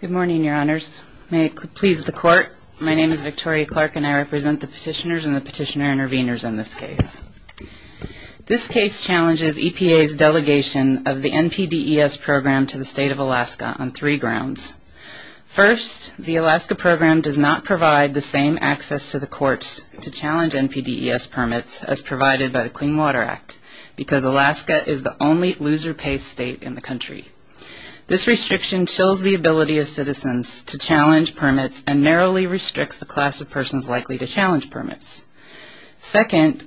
Good morning your honors. May it please the court, my name is Victoria Clark and I represent the petitioners and the petitioner interveners in this case. This case challenges EPA's delegation of the NPDES program to the state of Alaska on three grounds. First, the Alaska program does not provide the same access to the courts to challenge NPDES permits as provided by the Clean Water Act because Alaska is the only loser pay state in the country. This restriction shows the ability of citizens to challenge permits and narrowly restricts the class of persons likely to challenge permits. Second,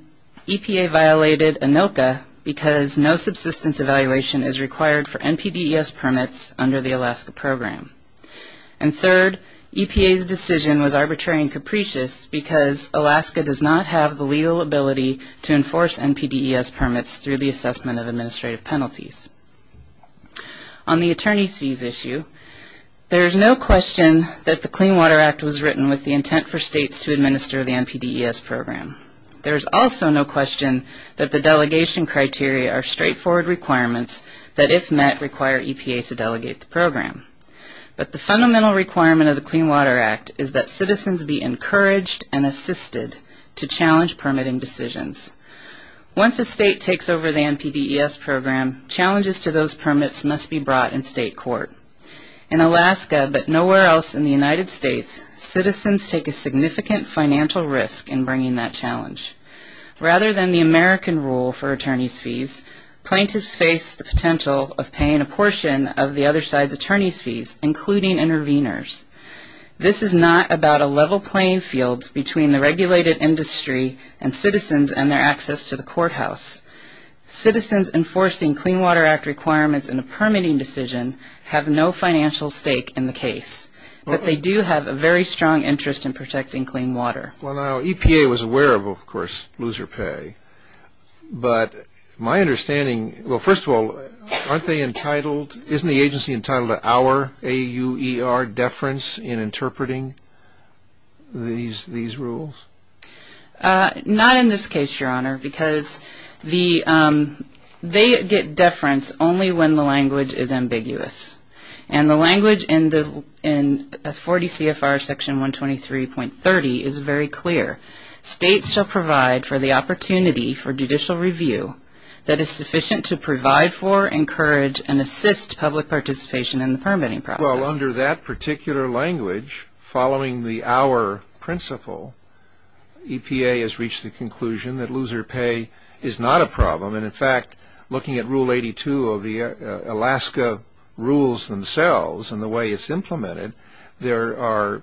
EPA violated ANILCA because no subsistence evaluation is required for NPDES permits under the Alaska program. And third, EPA's decision was arbitrary and capricious because Alaska does not have the legal ability to enforce NPDES permits through the assessment of There is no question that the Clean Water Act was written with the intent for states to administer the NPDES program. There is also no question that the delegation criteria are straightforward requirements that if met require EPA to delegate the program. But the fundamental requirement of the Clean Water Act is that citizens be encouraged and assisted to challenge permitting decisions. Once a state takes over the NPDES program, challenges to those permits must be brought in state court. In Alaska, but nowhere else in the United States, citizens take a significant financial risk in bringing that challenge. Rather than the American rule for attorney's fees, plaintiffs face the potential of paying a portion of the other side's attorney's fees, including intervenors. This is not about a level playing field between the regulated industry and citizens and their access to the courthouse. Citizens enforcing Clean Water Act requirements in a permitting decision have no financial stake in the case, but they do have a very strong interest in protecting clean water. EPA was aware of, of course, loser pay, but my understanding, well first of all, aren't they entitled, isn't the agency entitled to our, A-U-E-R, deference in only when the language is ambiguous. And the language in the, in 40 CFR section 123.30 is very clear. States shall provide for the opportunity for judicial review that is sufficient to provide for, encourage, and assist public participation in the permitting process. Well, under that particular language, following the our principle, EPA has reached the conclusion that loser pay is not a problem. And in fact, looking at rule 82 of the Alaska rules themselves and the way it's implemented, there are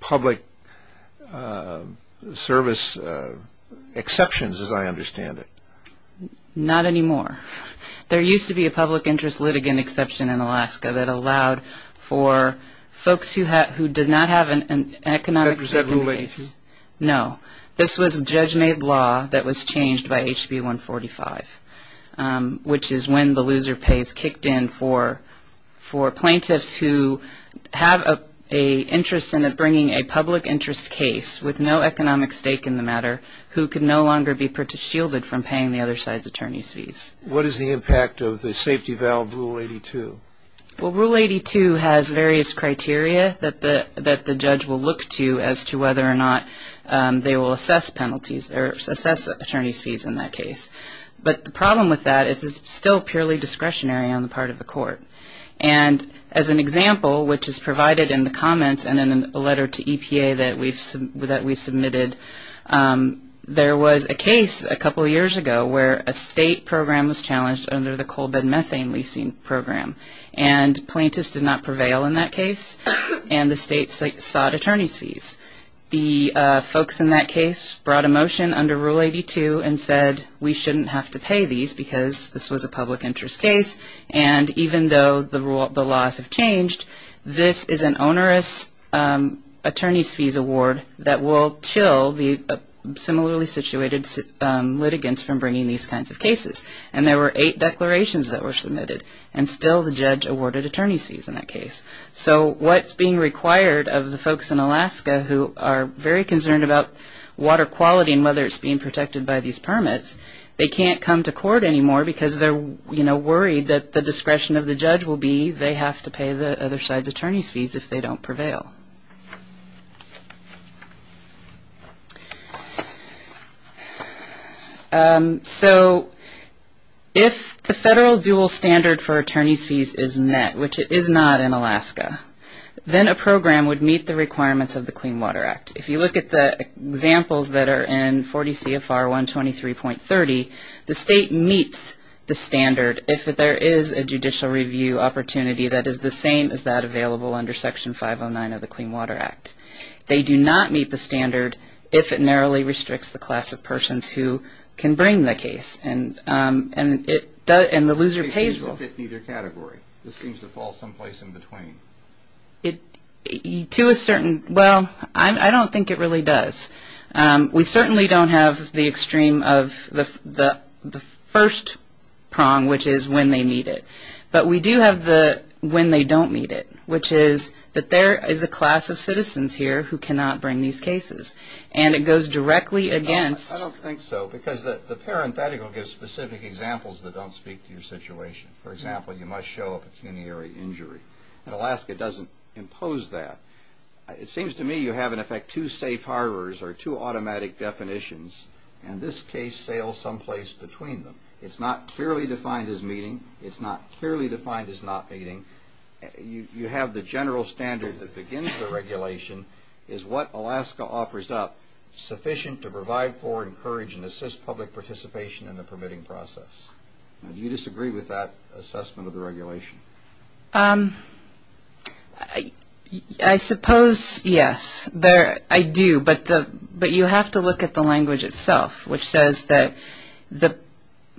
public service exceptions, as I understand it. Not anymore. There used to be a public interest litigant exception in Alaska that allowed for folks who had, who did not have an economic stake in the matter who could no longer be shielded from paying the other side's attorney's fees. What is the impact of the safety valve rule 82? Well, rule 82 has various criteria that the judge will look to as to whether or not they will assess penalties or assess attorney's fees in that case. But the problem with that is it's still purely discretionary on the part of the court. And as an example, which is provided in the comments and in a letter to EPA that we've submitted, there was a case a couple of years ago where a state program was challenged under the coal bed methane leasing program. And plaintiffs did not want to pay the state's fees on that case. And the state sought attorney's fees. The folks in that case brought a motion under rule 82 and said, we shouldn't have to pay these because this was a public interest case. And even though the rules, the laws have changed, this is an onerous attorney's fees award that will chill the similarly situated litigants from bringing these kinds of cases. And there were eight declarations that were submitted. And so what's being required of the folks in Alaska who are very concerned about water quality and whether it's being protected by these permits, they can't come to court anymore because they're worried that the discretion of the judge will be they have to pay the other side's attorney's fees if they don't prevail. So if the federal dual standard for attorney's fees is met, which it is not in Alaska, then a program would meet the requirements of the Clean Water Act. If you look at the examples that are in 40 CFR 123.30, the state meets the standard if there is a judicial review opportunity that is the same as that available under Section 509 of the Clean Water Act. They do not meet the standard if it narrowly restricts the class of persons who can bring the case. And the loser pays for it. To a certain, well, I don't think it really does. We certainly don't have the extreme of the first prong, which is when they meet it. But we do have the when they don't meet it, which is that there is a class of citizens here who cannot bring these cases. And it goes directly against. I don't think so. Because the parenthetical gives specific examples that don't speak to your situation. For example, you must show a pecuniary injury. And Alaska doesn't impose that. It seems to me you have in effect two safe harbors or two automatic definitions. And this case sails someplace between them. It's not clearly defined as meeting. It's not clearly defined as not meeting. You have the general standard that begins the regulation is what Alaska offers up sufficient to provide for, encourage, and assist public participation in the permitting process. Do you disagree with that assessment of the regulation? I suppose yes. I do. But you have to look at the language itself, which says that the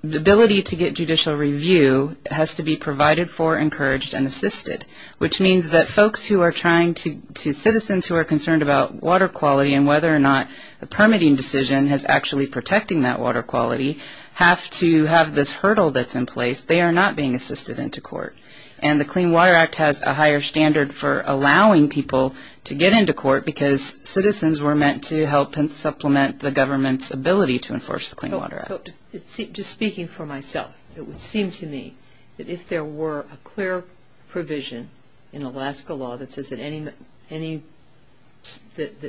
ability to get judicial review has to be provided for, encouraged, and assisted. Which means that folks who are trying to, citizens who are concerned about water quality and whether or not a permitting decision has actually protecting that water quality have to have this hurdle that's in place. They are not being assisted into court. And the Clean Water Act has a higher standard for allowing people to get into court because citizens were meant to help supplement the government's ability to enforce the Clean Water Act. So just speaking for myself, it would seem to me that if there were a clear provision in Alaska law that says that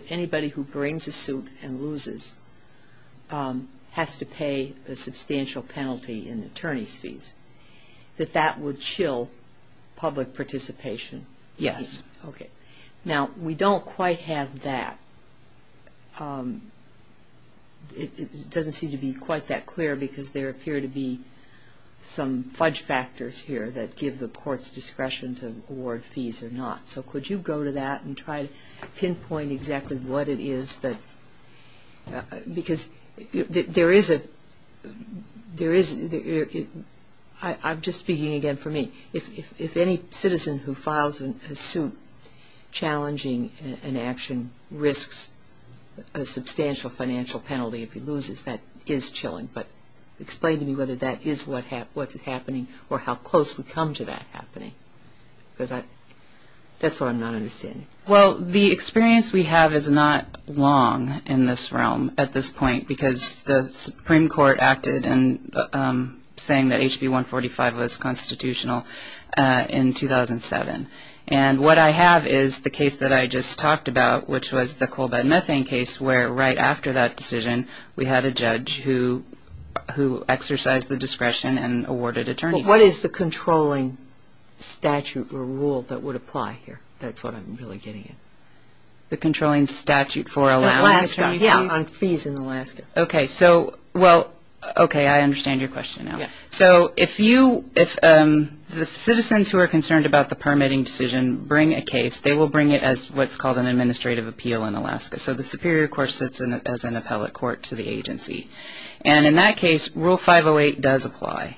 anybody who brings a suit and loses has to pay a substantial penalty in attorney's fees, that that would chill public participation? Yes. Okay. Now, we don't quite have that. It doesn't seem to be quite that clear because there appear to be some fudge factors here that give the court's discretion to award fees or not. So could you go to that and try to pinpoint exactly what it is that, because there is a, there is, I'm just speaking again for me. If any citizen who files a suit challenging an action risks a penalty, explain to me whether that is what's happening or how close we come to that happening because that's what I'm not understanding. Well, the experience we have is not long in this realm at this point because the Supreme Court acted and saying that HB 145 was constitutional in 2007. And what I have is the case that I just talked about, which was the coal after that decision, we had a judge who exercised the discretion and awarded attorney's fees. But what is the controlling statute or rule that would apply here? That's what I'm really getting at. The controlling statute for allowing attorney's fees? Yeah, on fees in Alaska. Okay. So, well, okay, I understand your question now. Yeah. So if you, if the citizens who are concerned about the permitting decision bring a case, they will bring it as what's called an administrative appeal in Alaska, which is an appellate court to the agency. And in that case, Rule 508 does apply.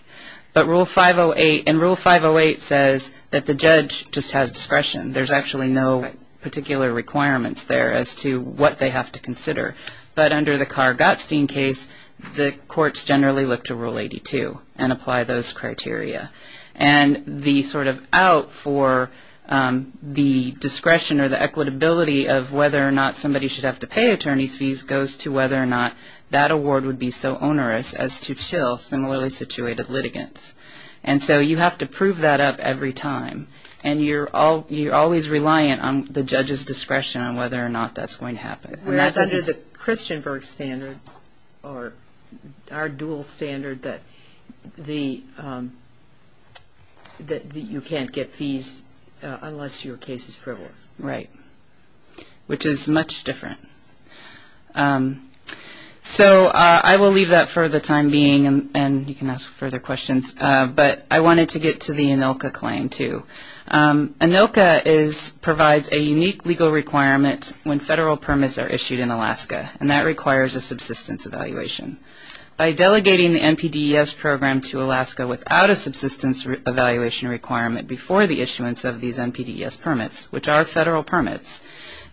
But Rule 508, and Rule 508 says that the judge just has discretion. There's actually no particular requirements there as to what they have to consider. But under the Carr-Gottstein case, the courts generally look to Rule 82 and apply those criteria. And the sort of out for the discretion or the equitability of whether or not somebody should have to pay attorney's fees goes to whether or not that award would be so onerous as to chill similarly situated litigants. And so you have to prove that up every time. And you're always reliant on the judge's discretion on whether or not that's going to happen. And that's under the Christianberg standard or our dual standard that the, that you can't get fees unless your case is frivolous. Right. Which is much different. So I will leave that for the time being. And you can ask further questions. But I wanted to get to the ANILCA claim too. ANILCA is, provides a unique legal requirement when federal permits are issued in Alaska. And that requires a subsistence evaluation. By delegating the NPDES program to Alaska without a subsistence evaluation requirement before the issuance of these NPDES permits, which are federal permits.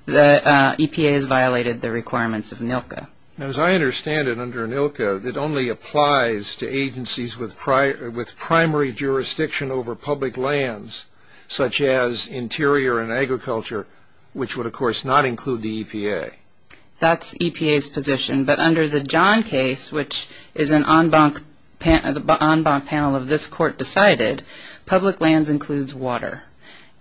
The EPA has violated the requirements of ANILCA. Now as I understand it under ANILCA, it only applies to agencies with primary jurisdiction over public lands, such as interior and agriculture, which would of course not include the EPA. That's EPA's position. But under the John case, which is an en banc panel of this court decided, public lands includes water.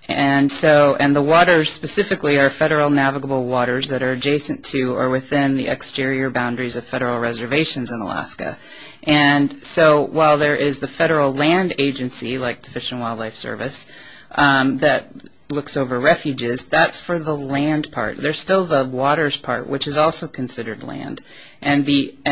And so, and the waters specifically are federal navigable waters that are adjacent to or within the exterior boundaries of federal reservations in Alaska. And so while there is the federal land agency, like Fish and Wildlife Service, that looks over refuges, that's for the land part. There's still the waters part, which is also considered land. And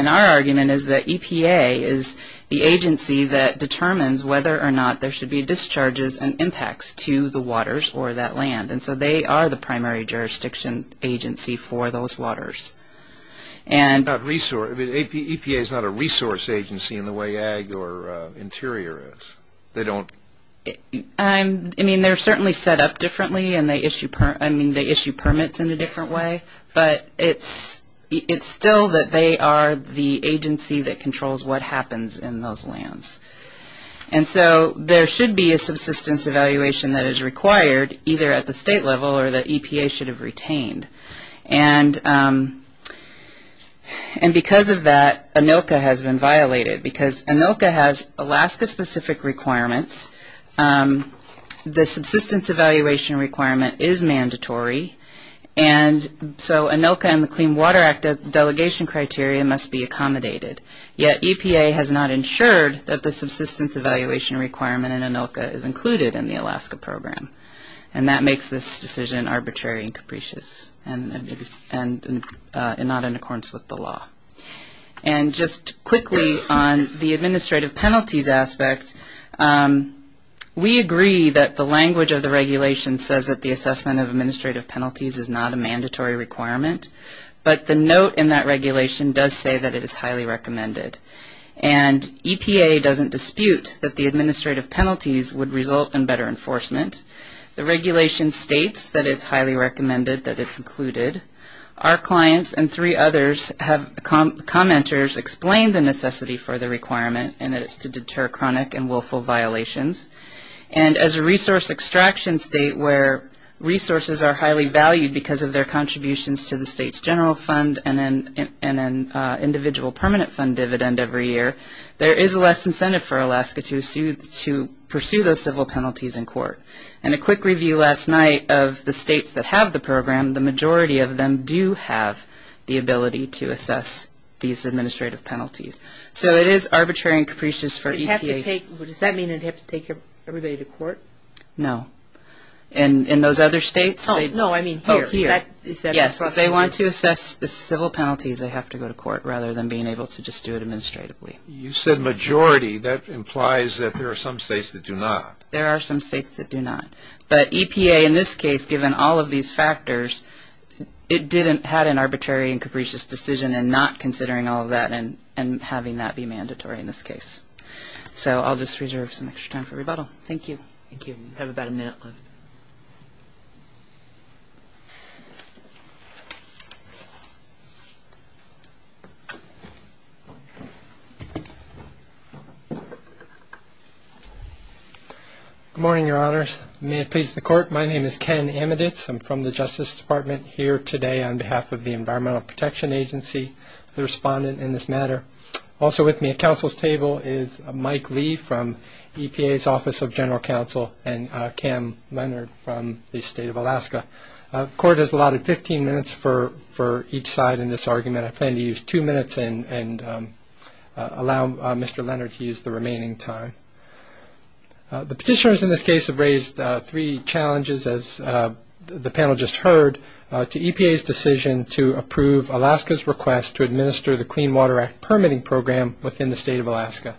our argument is that EPA is the agency that determines whether or not there should be discharges and impacts to the waters or that land. And so they are the primary jurisdiction agency for those waters. And EPA is not a resource agency in the way ag or interior is. They don't I mean they're certainly set up differently and they issue permits in a different way. But it's still that they are the agency that controls what happens in those lands. And so there should be a subsistence evaluation that is required, either at the state level or that EPA should have retained. And because of that, ANILCA has been violated. Because ANILCA has Alaska specific requirements. The subsistence evaluation requirement is mandatory. And so ANILCA and the Clean Water Act delegation criteria must be accommodated. Yet EPA has not ensured that the subsistence evaluation requirement in ANILCA is included in the Alaska program. And that makes this decision arbitrary and capricious and not in accordance with the law. And just quickly on the administrative penalties aspect, we agree that the language of the regulation says that the assessment of administrative penalties is not a mandatory requirement. But the note in that regulation does say that it is highly recommended. And EPA doesn't dispute that the administrative penalties would result in better enforcement. The regulation states that it's highly recommended that it's included. Our clients and three others have commenters explain the necessity for the requirement and that it's to deter chronic and willful violations. And as a resource extraction state where resources are highly valued because of their contributions to the state's general fund and an individual permanent fund dividend every year, there is less incentive for Alaska to pursue those civil penalties in court. And a quick review last night of the states that have the program, the majority of them do have the ability to assess these administrative penalties. So it is arbitrary and capricious for EPA. Does that mean it would have to take everybody to court? No. In those other states? No, I mean here. Oh, here. Yes. If they want to assess the civil penalties, they have to go to court rather than being able to just do it administratively. You said majority. That implies that there are some states that do not. There are some states that do not. But EPA in this case, given all of these factors, it didn't have an arbitrary and capricious decision in not considering all of that and having that be mandatory in this case. So I'll just reserve some extra time for rebuttal. Thank you. Thank you. We have about a minute left. Good morning, Your Honors. May it please the Court. My name is Ken Amiditz. I'm from the Justice Department here today on behalf of the Environmental Protection Agency, the respondent in this matter. Also with me at counsel's table is Mike Lee from EPA's Office of Environmental Protection and Cam Leonard from the State of Alaska. The Court has allotted 15 minutes for each side in this argument. I plan to use two minutes and allow Mr. Leonard to use the remaining time. The petitioners in this case have raised three challenges, as the panel just heard, to EPA's decision to approve Alaska's request to administer the Clean Water Act permitting program within the State of Alaska.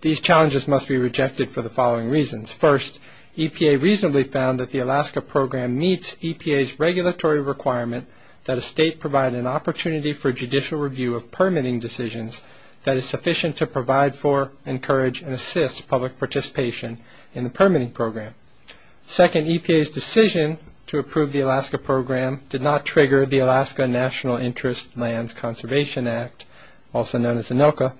These challenges must be rejected for the following reasons. First, EPA reasonably found that the Alaska program meets EPA's regulatory requirement that a state provide an opportunity for judicial review of permitting decisions that is sufficient to provide for, encourage, and assist public participation in the permitting program. Second, EPA's decision to approve the Alaska program did not trigger the Alaska National Interest Lands Conservation Act, also known as ANILCA.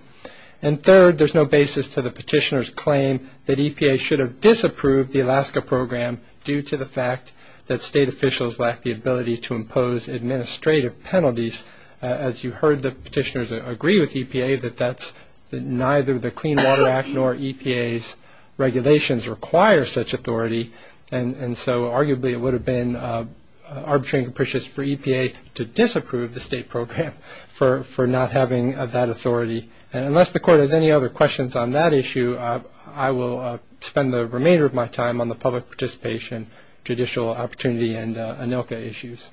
And third, there's no basis to the petitioner's claim that EPA should have disapproved the Alaska program due to the fact that state officials lack the ability to impose administrative penalties. As you heard, the petitioners agree with EPA that neither the Clean Water Act nor EPA's regulations require such authority. And so arguably it would have been arbitrary and capricious for EPA to disapprove the state program for not having that authority. And unless the Court has any other questions on that issue, I will spend the remainder of my time on the public participation, judicial opportunity, and ANILCA issues.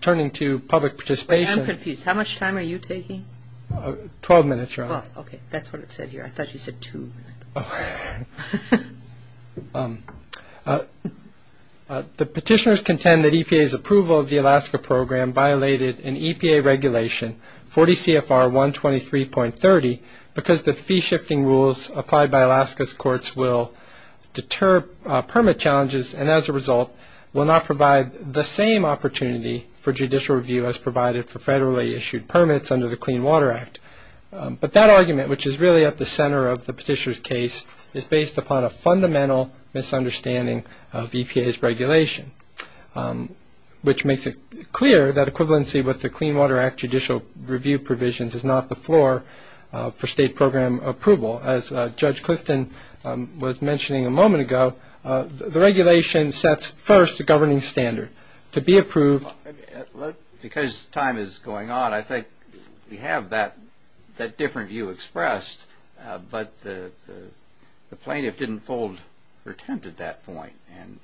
Turning to public participation. I am confused. How much time are you taking? Twelve minutes, Your Honor. Well, okay. That's what it said here. I thought you said two. Oh. The petitioners contend that EPA's approval of the Alaska program violated an EPA regulation, 40 CFR 123.30, because the fee-shifting rules applied by Alaska's courts will deter permit challenges and as a result will not provide the same opportunity for judicial review as provided for federally issued permits under the Clean Water Act. But that argument, which is really at the center of the petitioner's case, is based upon a fundamental misunderstanding of EPA's regulation, which makes it clear that equivalency with the Clean Water Act judicial review provisions is not the basis for state program approval. As Judge Clifton was mentioning a moment ago, the regulation sets first a governing standard. To be approved... Because time is going on, I think we have that different view expressed, but the plaintiff didn't fold her tent at that point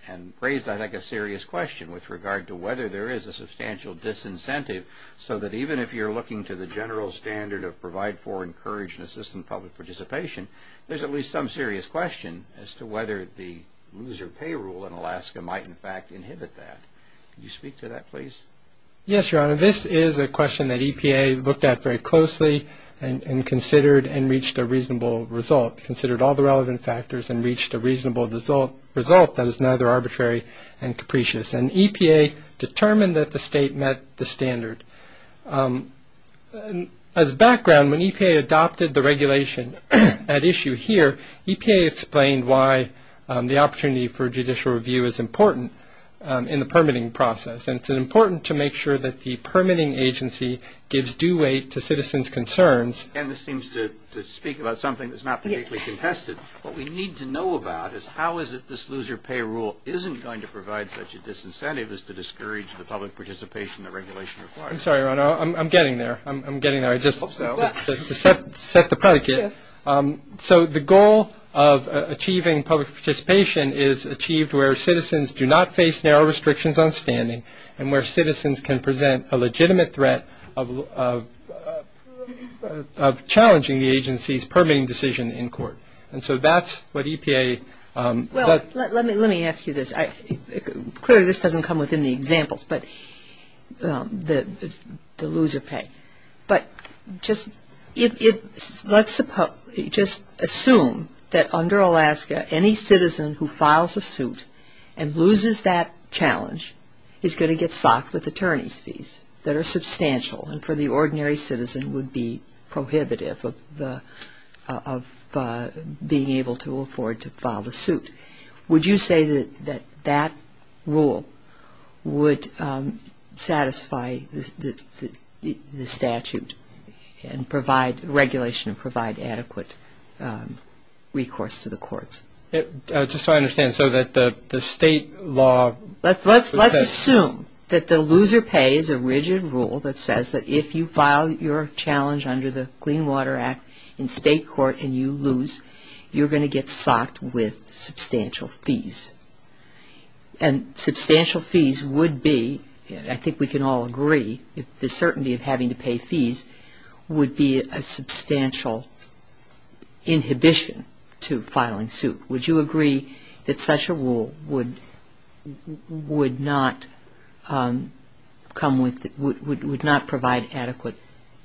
and raised, I think, a serious question with regard to whether there is a substantial disincentive so that even if you're looking to the general standard of provide for, encourage, and assist in public participation, there's at least some serious question as to whether the loser pay rule in Alaska might, in fact, inhibit that. Could you speak to that, please? Yes, Your Honor. This is a question that EPA looked at very closely and considered and reached a reasonable result, considered all the relevant factors and reached a reasonable result that is neither arbitrary and capricious. And EPA determined that the state met the standard. As a background, when EPA adopted the regulation at issue here, EPA explained why the opportunity for judicial review is important in the permitting process. And it's important to make sure that the permitting agency gives due weight to citizens' concerns. And this seems to speak about something that's not particularly contested. What we need to know about is how is it this loser pay rule isn't going to provide such a disincentive as to discourage the public participation the regulation requires. I'm sorry, Your Honor. I'm getting there. I'm getting there. I just hope so. To set the predicate, so the goal of achieving public participation is achieved where citizens do not face narrow restrictions on standing and where citizens can present a legitimate threat of challenging the agency's permitting decision in court. And so that's what EPA- Well, let me ask you this. Clearly, this doesn't come within the examples, but the loser pay. But just assume that under Alaska, any citizen who files a suit and loses that challenge is going to get socked with attorney's fees that are substantial and for the ordinary citizen would be prohibitive of being able to afford to file the suit. Would you say that that rule would satisfy the statute and provide regulation and provide adequate recourse to the courts? Just so I understand, so that the state law- Let's assume that the loser pay is a rigid rule that says that if you file your challenge under the Clean Water Act in state court and you lose, you're going to get socked with substantial fees. And substantial fees would be, I think we can all agree, the certainty of having to pay fees would be a substantial inhibition to filing suit. Would you agree that such a rule would not come with- would not provide adequate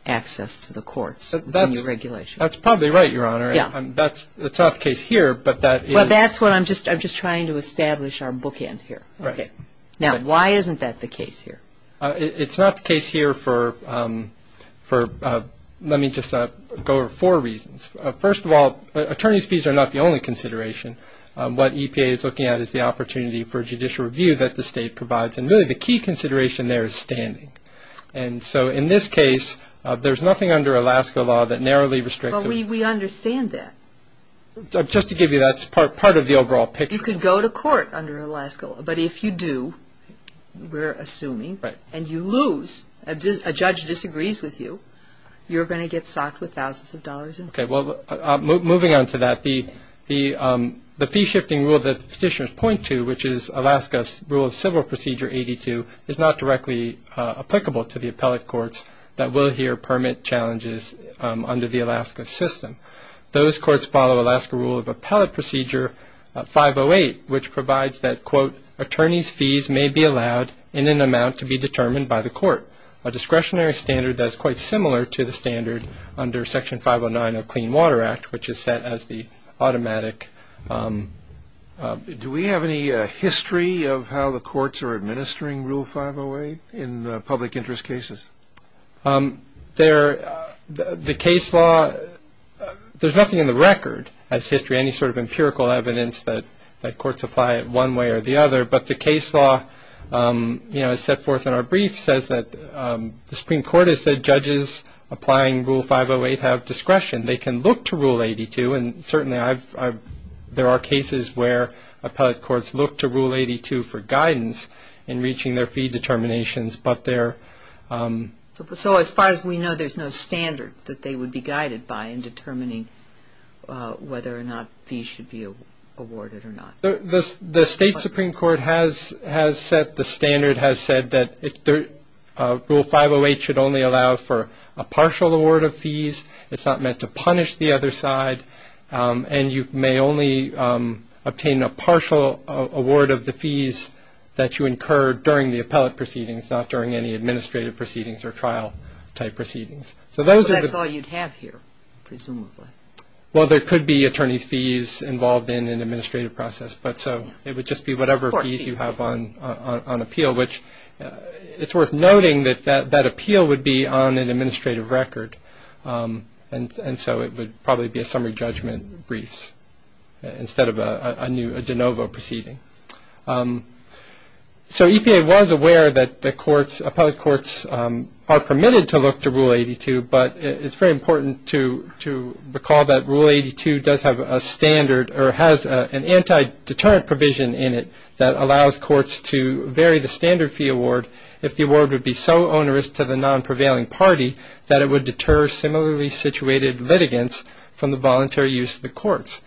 access to the courts in your regulation? That's probably right, Your Honor. Yeah. That's not the case here, but that is- Well, that's what I'm just- I'm just trying to establish our bookend here. Right. Now, why isn't that the case here? It's not the case here for- let me just go over four reasons. First of all, attorney's fees are not the only consideration. What EPA is looking at is the opportunity for judicial review that the state provides. And really, the key consideration there is standing. And so, in this case, there's nothing under Alaska law that narrowly restricts- But we understand that. Just to give you- that's part of the overall picture. You could go to court under Alaska law, but if you do, we're assuming, and you lose, a judge disagrees with you, you're going to get socked with thousands of dollars in fees. Okay. Well, moving on to that, the fee-shifting rule that the petitioners point to, which is Alaska's Rule of Civil Procedure 82, is not directly applicable to the appellate courts that will hear permit challenges under the Alaska system. Those courts follow Alaska Rule of Appellate Procedure 508, which provides that, quote, attorney's fees may be allowed in an amount to be determined by the court, a discretionary standard that is quite similar to the standard under Section 509 of Clean Water Act, which is set as the automatic- Do we have any history of how the courts are administering Rule 508 in public interest cases? There- the case law- there's nothing in the record as history, any sort of empirical evidence that courts apply it one way or the other, but the case law, you know, as set forth in our brief, says that the Supreme Court has said judges applying Rule 508 have discretion. They can look to Rule 82, and certainly I've- there are cases where appellate courts look to Rule 82 for guidance in reaching their fee determinations, but they're- So as far as we know, there's no standard that they would be guided by in determining whether or not fees should be awarded or not. The State Supreme Court has- has set- the standard has said that Rule 508 should only allow for a partial award of fees. It's not meant to punish the other side, and you may only obtain a partial award of the fees that you incur during the appellate proceedings, not during any administrative proceedings or trial-type proceedings. So those are- That's all you'd have here, presumably. Well, there could be attorney's fees involved in an administrative process, but so it would just be whatever fees you have on appeal, which it's worth noting that that appeal would be on an administrative record, and so it would probably be a summary judgment briefs instead of a de novo proceeding. So EPA was aware that the courts- appellate courts are permitted to look to Rule 82, but it's very important to- to recall that Rule 82 does have a standard- or has an anti-deterrent provision in it that allows courts to vary the standard fee award if the award would be so onerous to the non-prevailing party that it would deter similarly situated litigants from the voluntary use of the courts.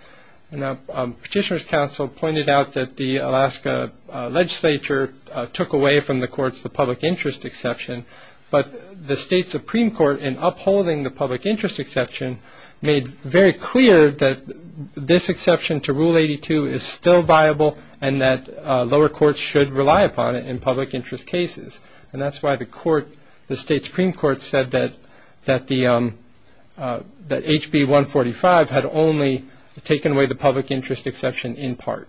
Now, Petitioner's Council pointed out that the Alaska Legislature took away from the courts the public interest exception, but the State Supreme Court in upholding the public interest exception made very clear that this exception to Rule 82 is still viable and that lower courts should rely upon it in public interest cases. And that's why the court- the State Supreme Court said that- that the- that HB 145 had only taken away the public interest exception in part.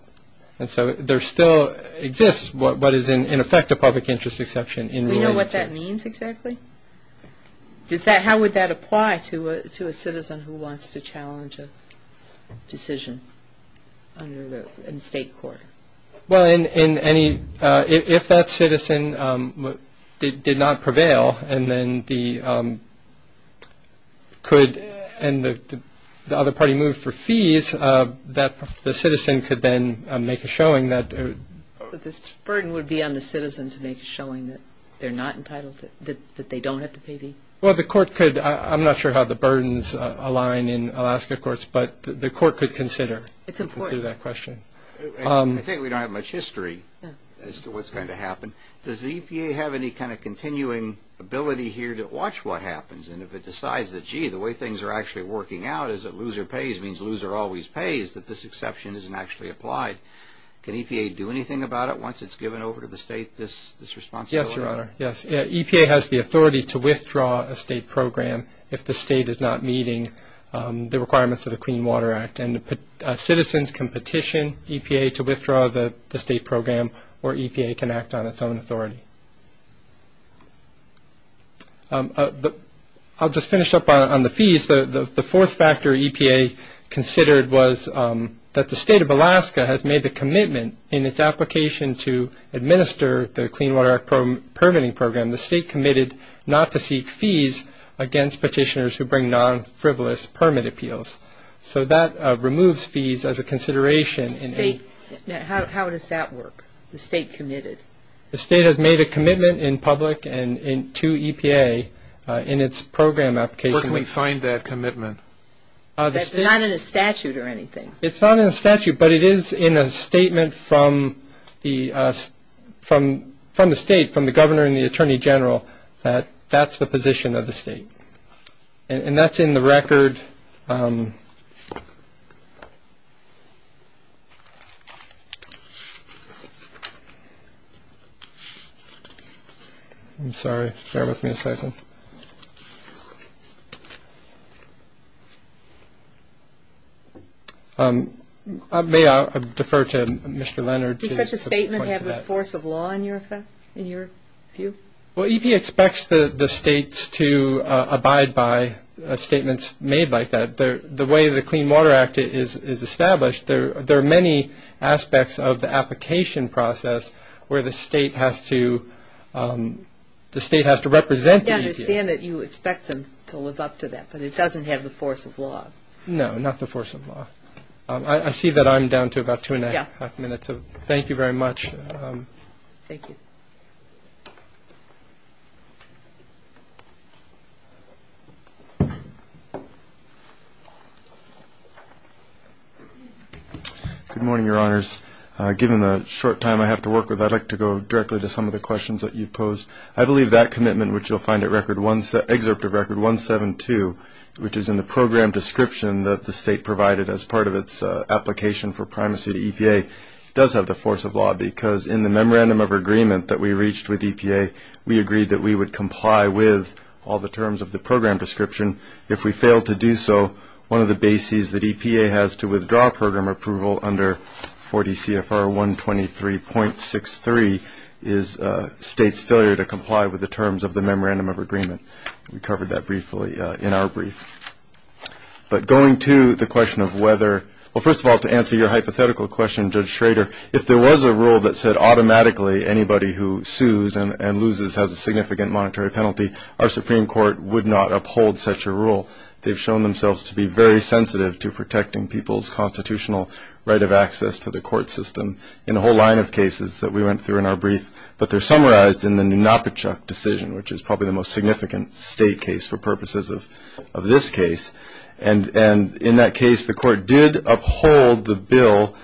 And so there still exists what is in effect a public interest exception in Rule 82. Do you know what that means exactly? Does that- how would that apply to a citizen who wants to challenge a decision under the- in state court? Well, in- in any- if that citizen did- did not prevail and then the- could- and the- the other party moved for fees that the citizen could then make a showing that- But this burden would be on the citizen to make a showing that they're not entitled to- that they don't have to pay fees? Well, the court could- I'm not sure how the burdens align in Alaska courts, but the court could consider that question. It's important. I think we don't have much history as to what's going to happen. Does the EPA have any kind of continuing ability here to watch what happens? And if it decides that, gee, the way things are actually working out is that loser pays means loser always pays, that this exception isn't actually applied? Can EPA do anything about it once it's given over to the state this responsibility? Yes, Your Honor. Yes. EPA has the authority to withdraw a state program if the state is not meeting the requirements of the Clean Water Act. And citizens can petition EPA to withdraw the state program or EPA can act on its own authority. I'll just finish up on the fees. The fourth factor EPA considered was that the state of Alaska has made the commitment in its application to administer the Clean Water Act permitting program. against petitioners who bring non-frivolous permit appeals. So that removes fees as a consideration in a- State. State. State. State. State. How does that work? The state committed. The state has made a commitment in public and to EPA in its program application. Where can we find that commitment? That's not in a statute or anything. It's not in a statute but it is in a statement from the from the state from the governor and the attorney general that that's the position of the state. And that's in the record I'm sorry. Bear with me a second. May I defer to Mr. Leonard to- Does such a statement have a force to abide by statements made by EPA and the state and the governor and the attorney general and the attorney general and the governor and the attorney general and things like that. The way the Clean Water Act is established there are many aspects of the application process where the state has to the state has to represent the EPA. I understand that you expect them to live up to that but it doesn't have the force of law. No, not the force of law. I see that I'm down to about two and a half minutes. Thank you very much. Thank you. Good morning Your Honors. Given the short time I have to work with I'd like to go directly to some of the questions that you posed. I believe that commitment which you'll find at Excerpt of Record 172 which is in the program description that the state provided as part of its application for primacy to EPA does have the force of law because in the Memorandum of Agreement that we reached with EPA we agreed that we would comply with all the terms of the program description if we failed to do so one of the bases that EPA has to withdraw program approval under 40 CFR 123.63 is state's failure to comply with the terms of the Memorandum of Agreement. We covered that briefly in our brief. But going to the question of whether well first of all to answer your hypothetical question Judge Schrader if there was a rule that said automatically anybody who sues and loses has a significant monetary penalty our Supreme Court would not uphold such a rule they've shown themselves to be very sensitive to protecting people's constitutional right of access to the court system in a whole line of cases that we went through in our brief but they're summarized in the decision which is probably the most significant state case for purposes of this case and in that case the court did uphold the bill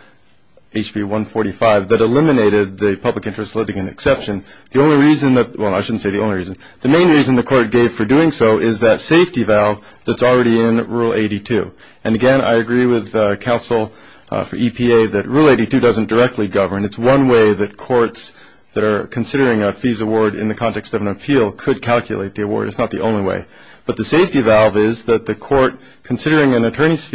HB 145 that eliminated the public interest litigation exception the only reason well I shouldn't say the only reason the main reason the court gave for doing so is that safety valve that's already in rule 82 and again I agree with counsel that rule 82 doesn't directly govern it's one way that courts that are considering a fees award in the context of an appeal could calculate the award it's not the only way but the safety valve is that the court considering an attorney's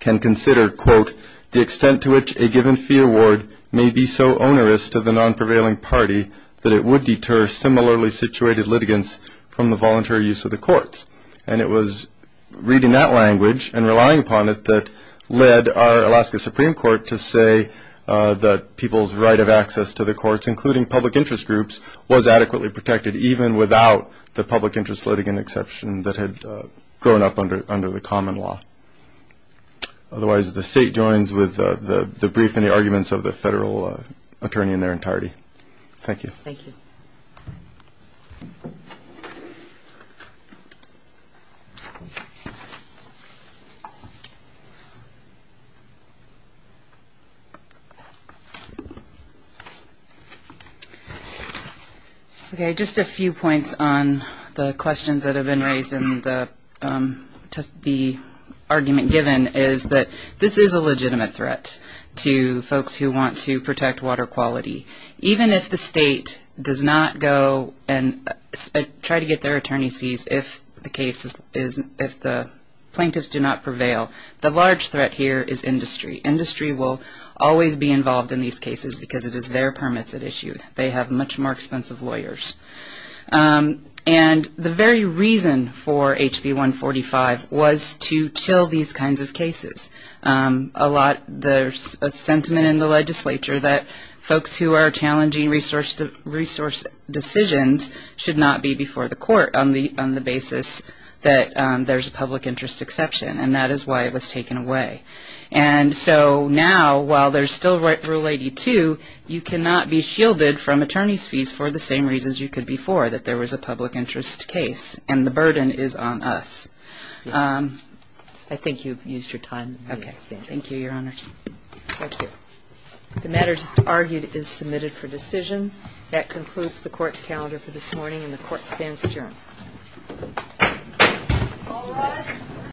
can consider quote the extent to which a given fee award may be so onerous to the non-prevailing party that it would deter similarly situated litigants from the voluntary use of the courts and it was reading that language and relying upon it that led our Alaska Supreme Court to say that people's right of access to the courts including public interest groups was adequately protected even without the public interest litigant exception that had grown up under the common law otherwise the state joins with the brief and the arguments of the federal attorney in their entirety thank you thank you okay just a few points on the questions that have been raised in the argument given is that this is a legitimate threat to folks who want to protect water quality even if the state does not go and try to get their attorney's fees if the plaintiffs do not prevail the large threat here is industry industry will always be involved in these cases because it is their permits they have much more expensive lawyers and the very reason for HB 145 was to chill these kinds of cases a lot there is a sentiment in the legislature that folks who are challenging resource decisions should not be before the court on the basis that there is a public interest exception and that is why it was taken away and so now while there is still rule 82 you cannot be shielded from attorney's fees for the same reasons you could be for that there was a public interest case and the burden is on us I think you've used your time thank you your honors the matter just argued is submitted for decision that concludes the court's calendar for this morning and the court stands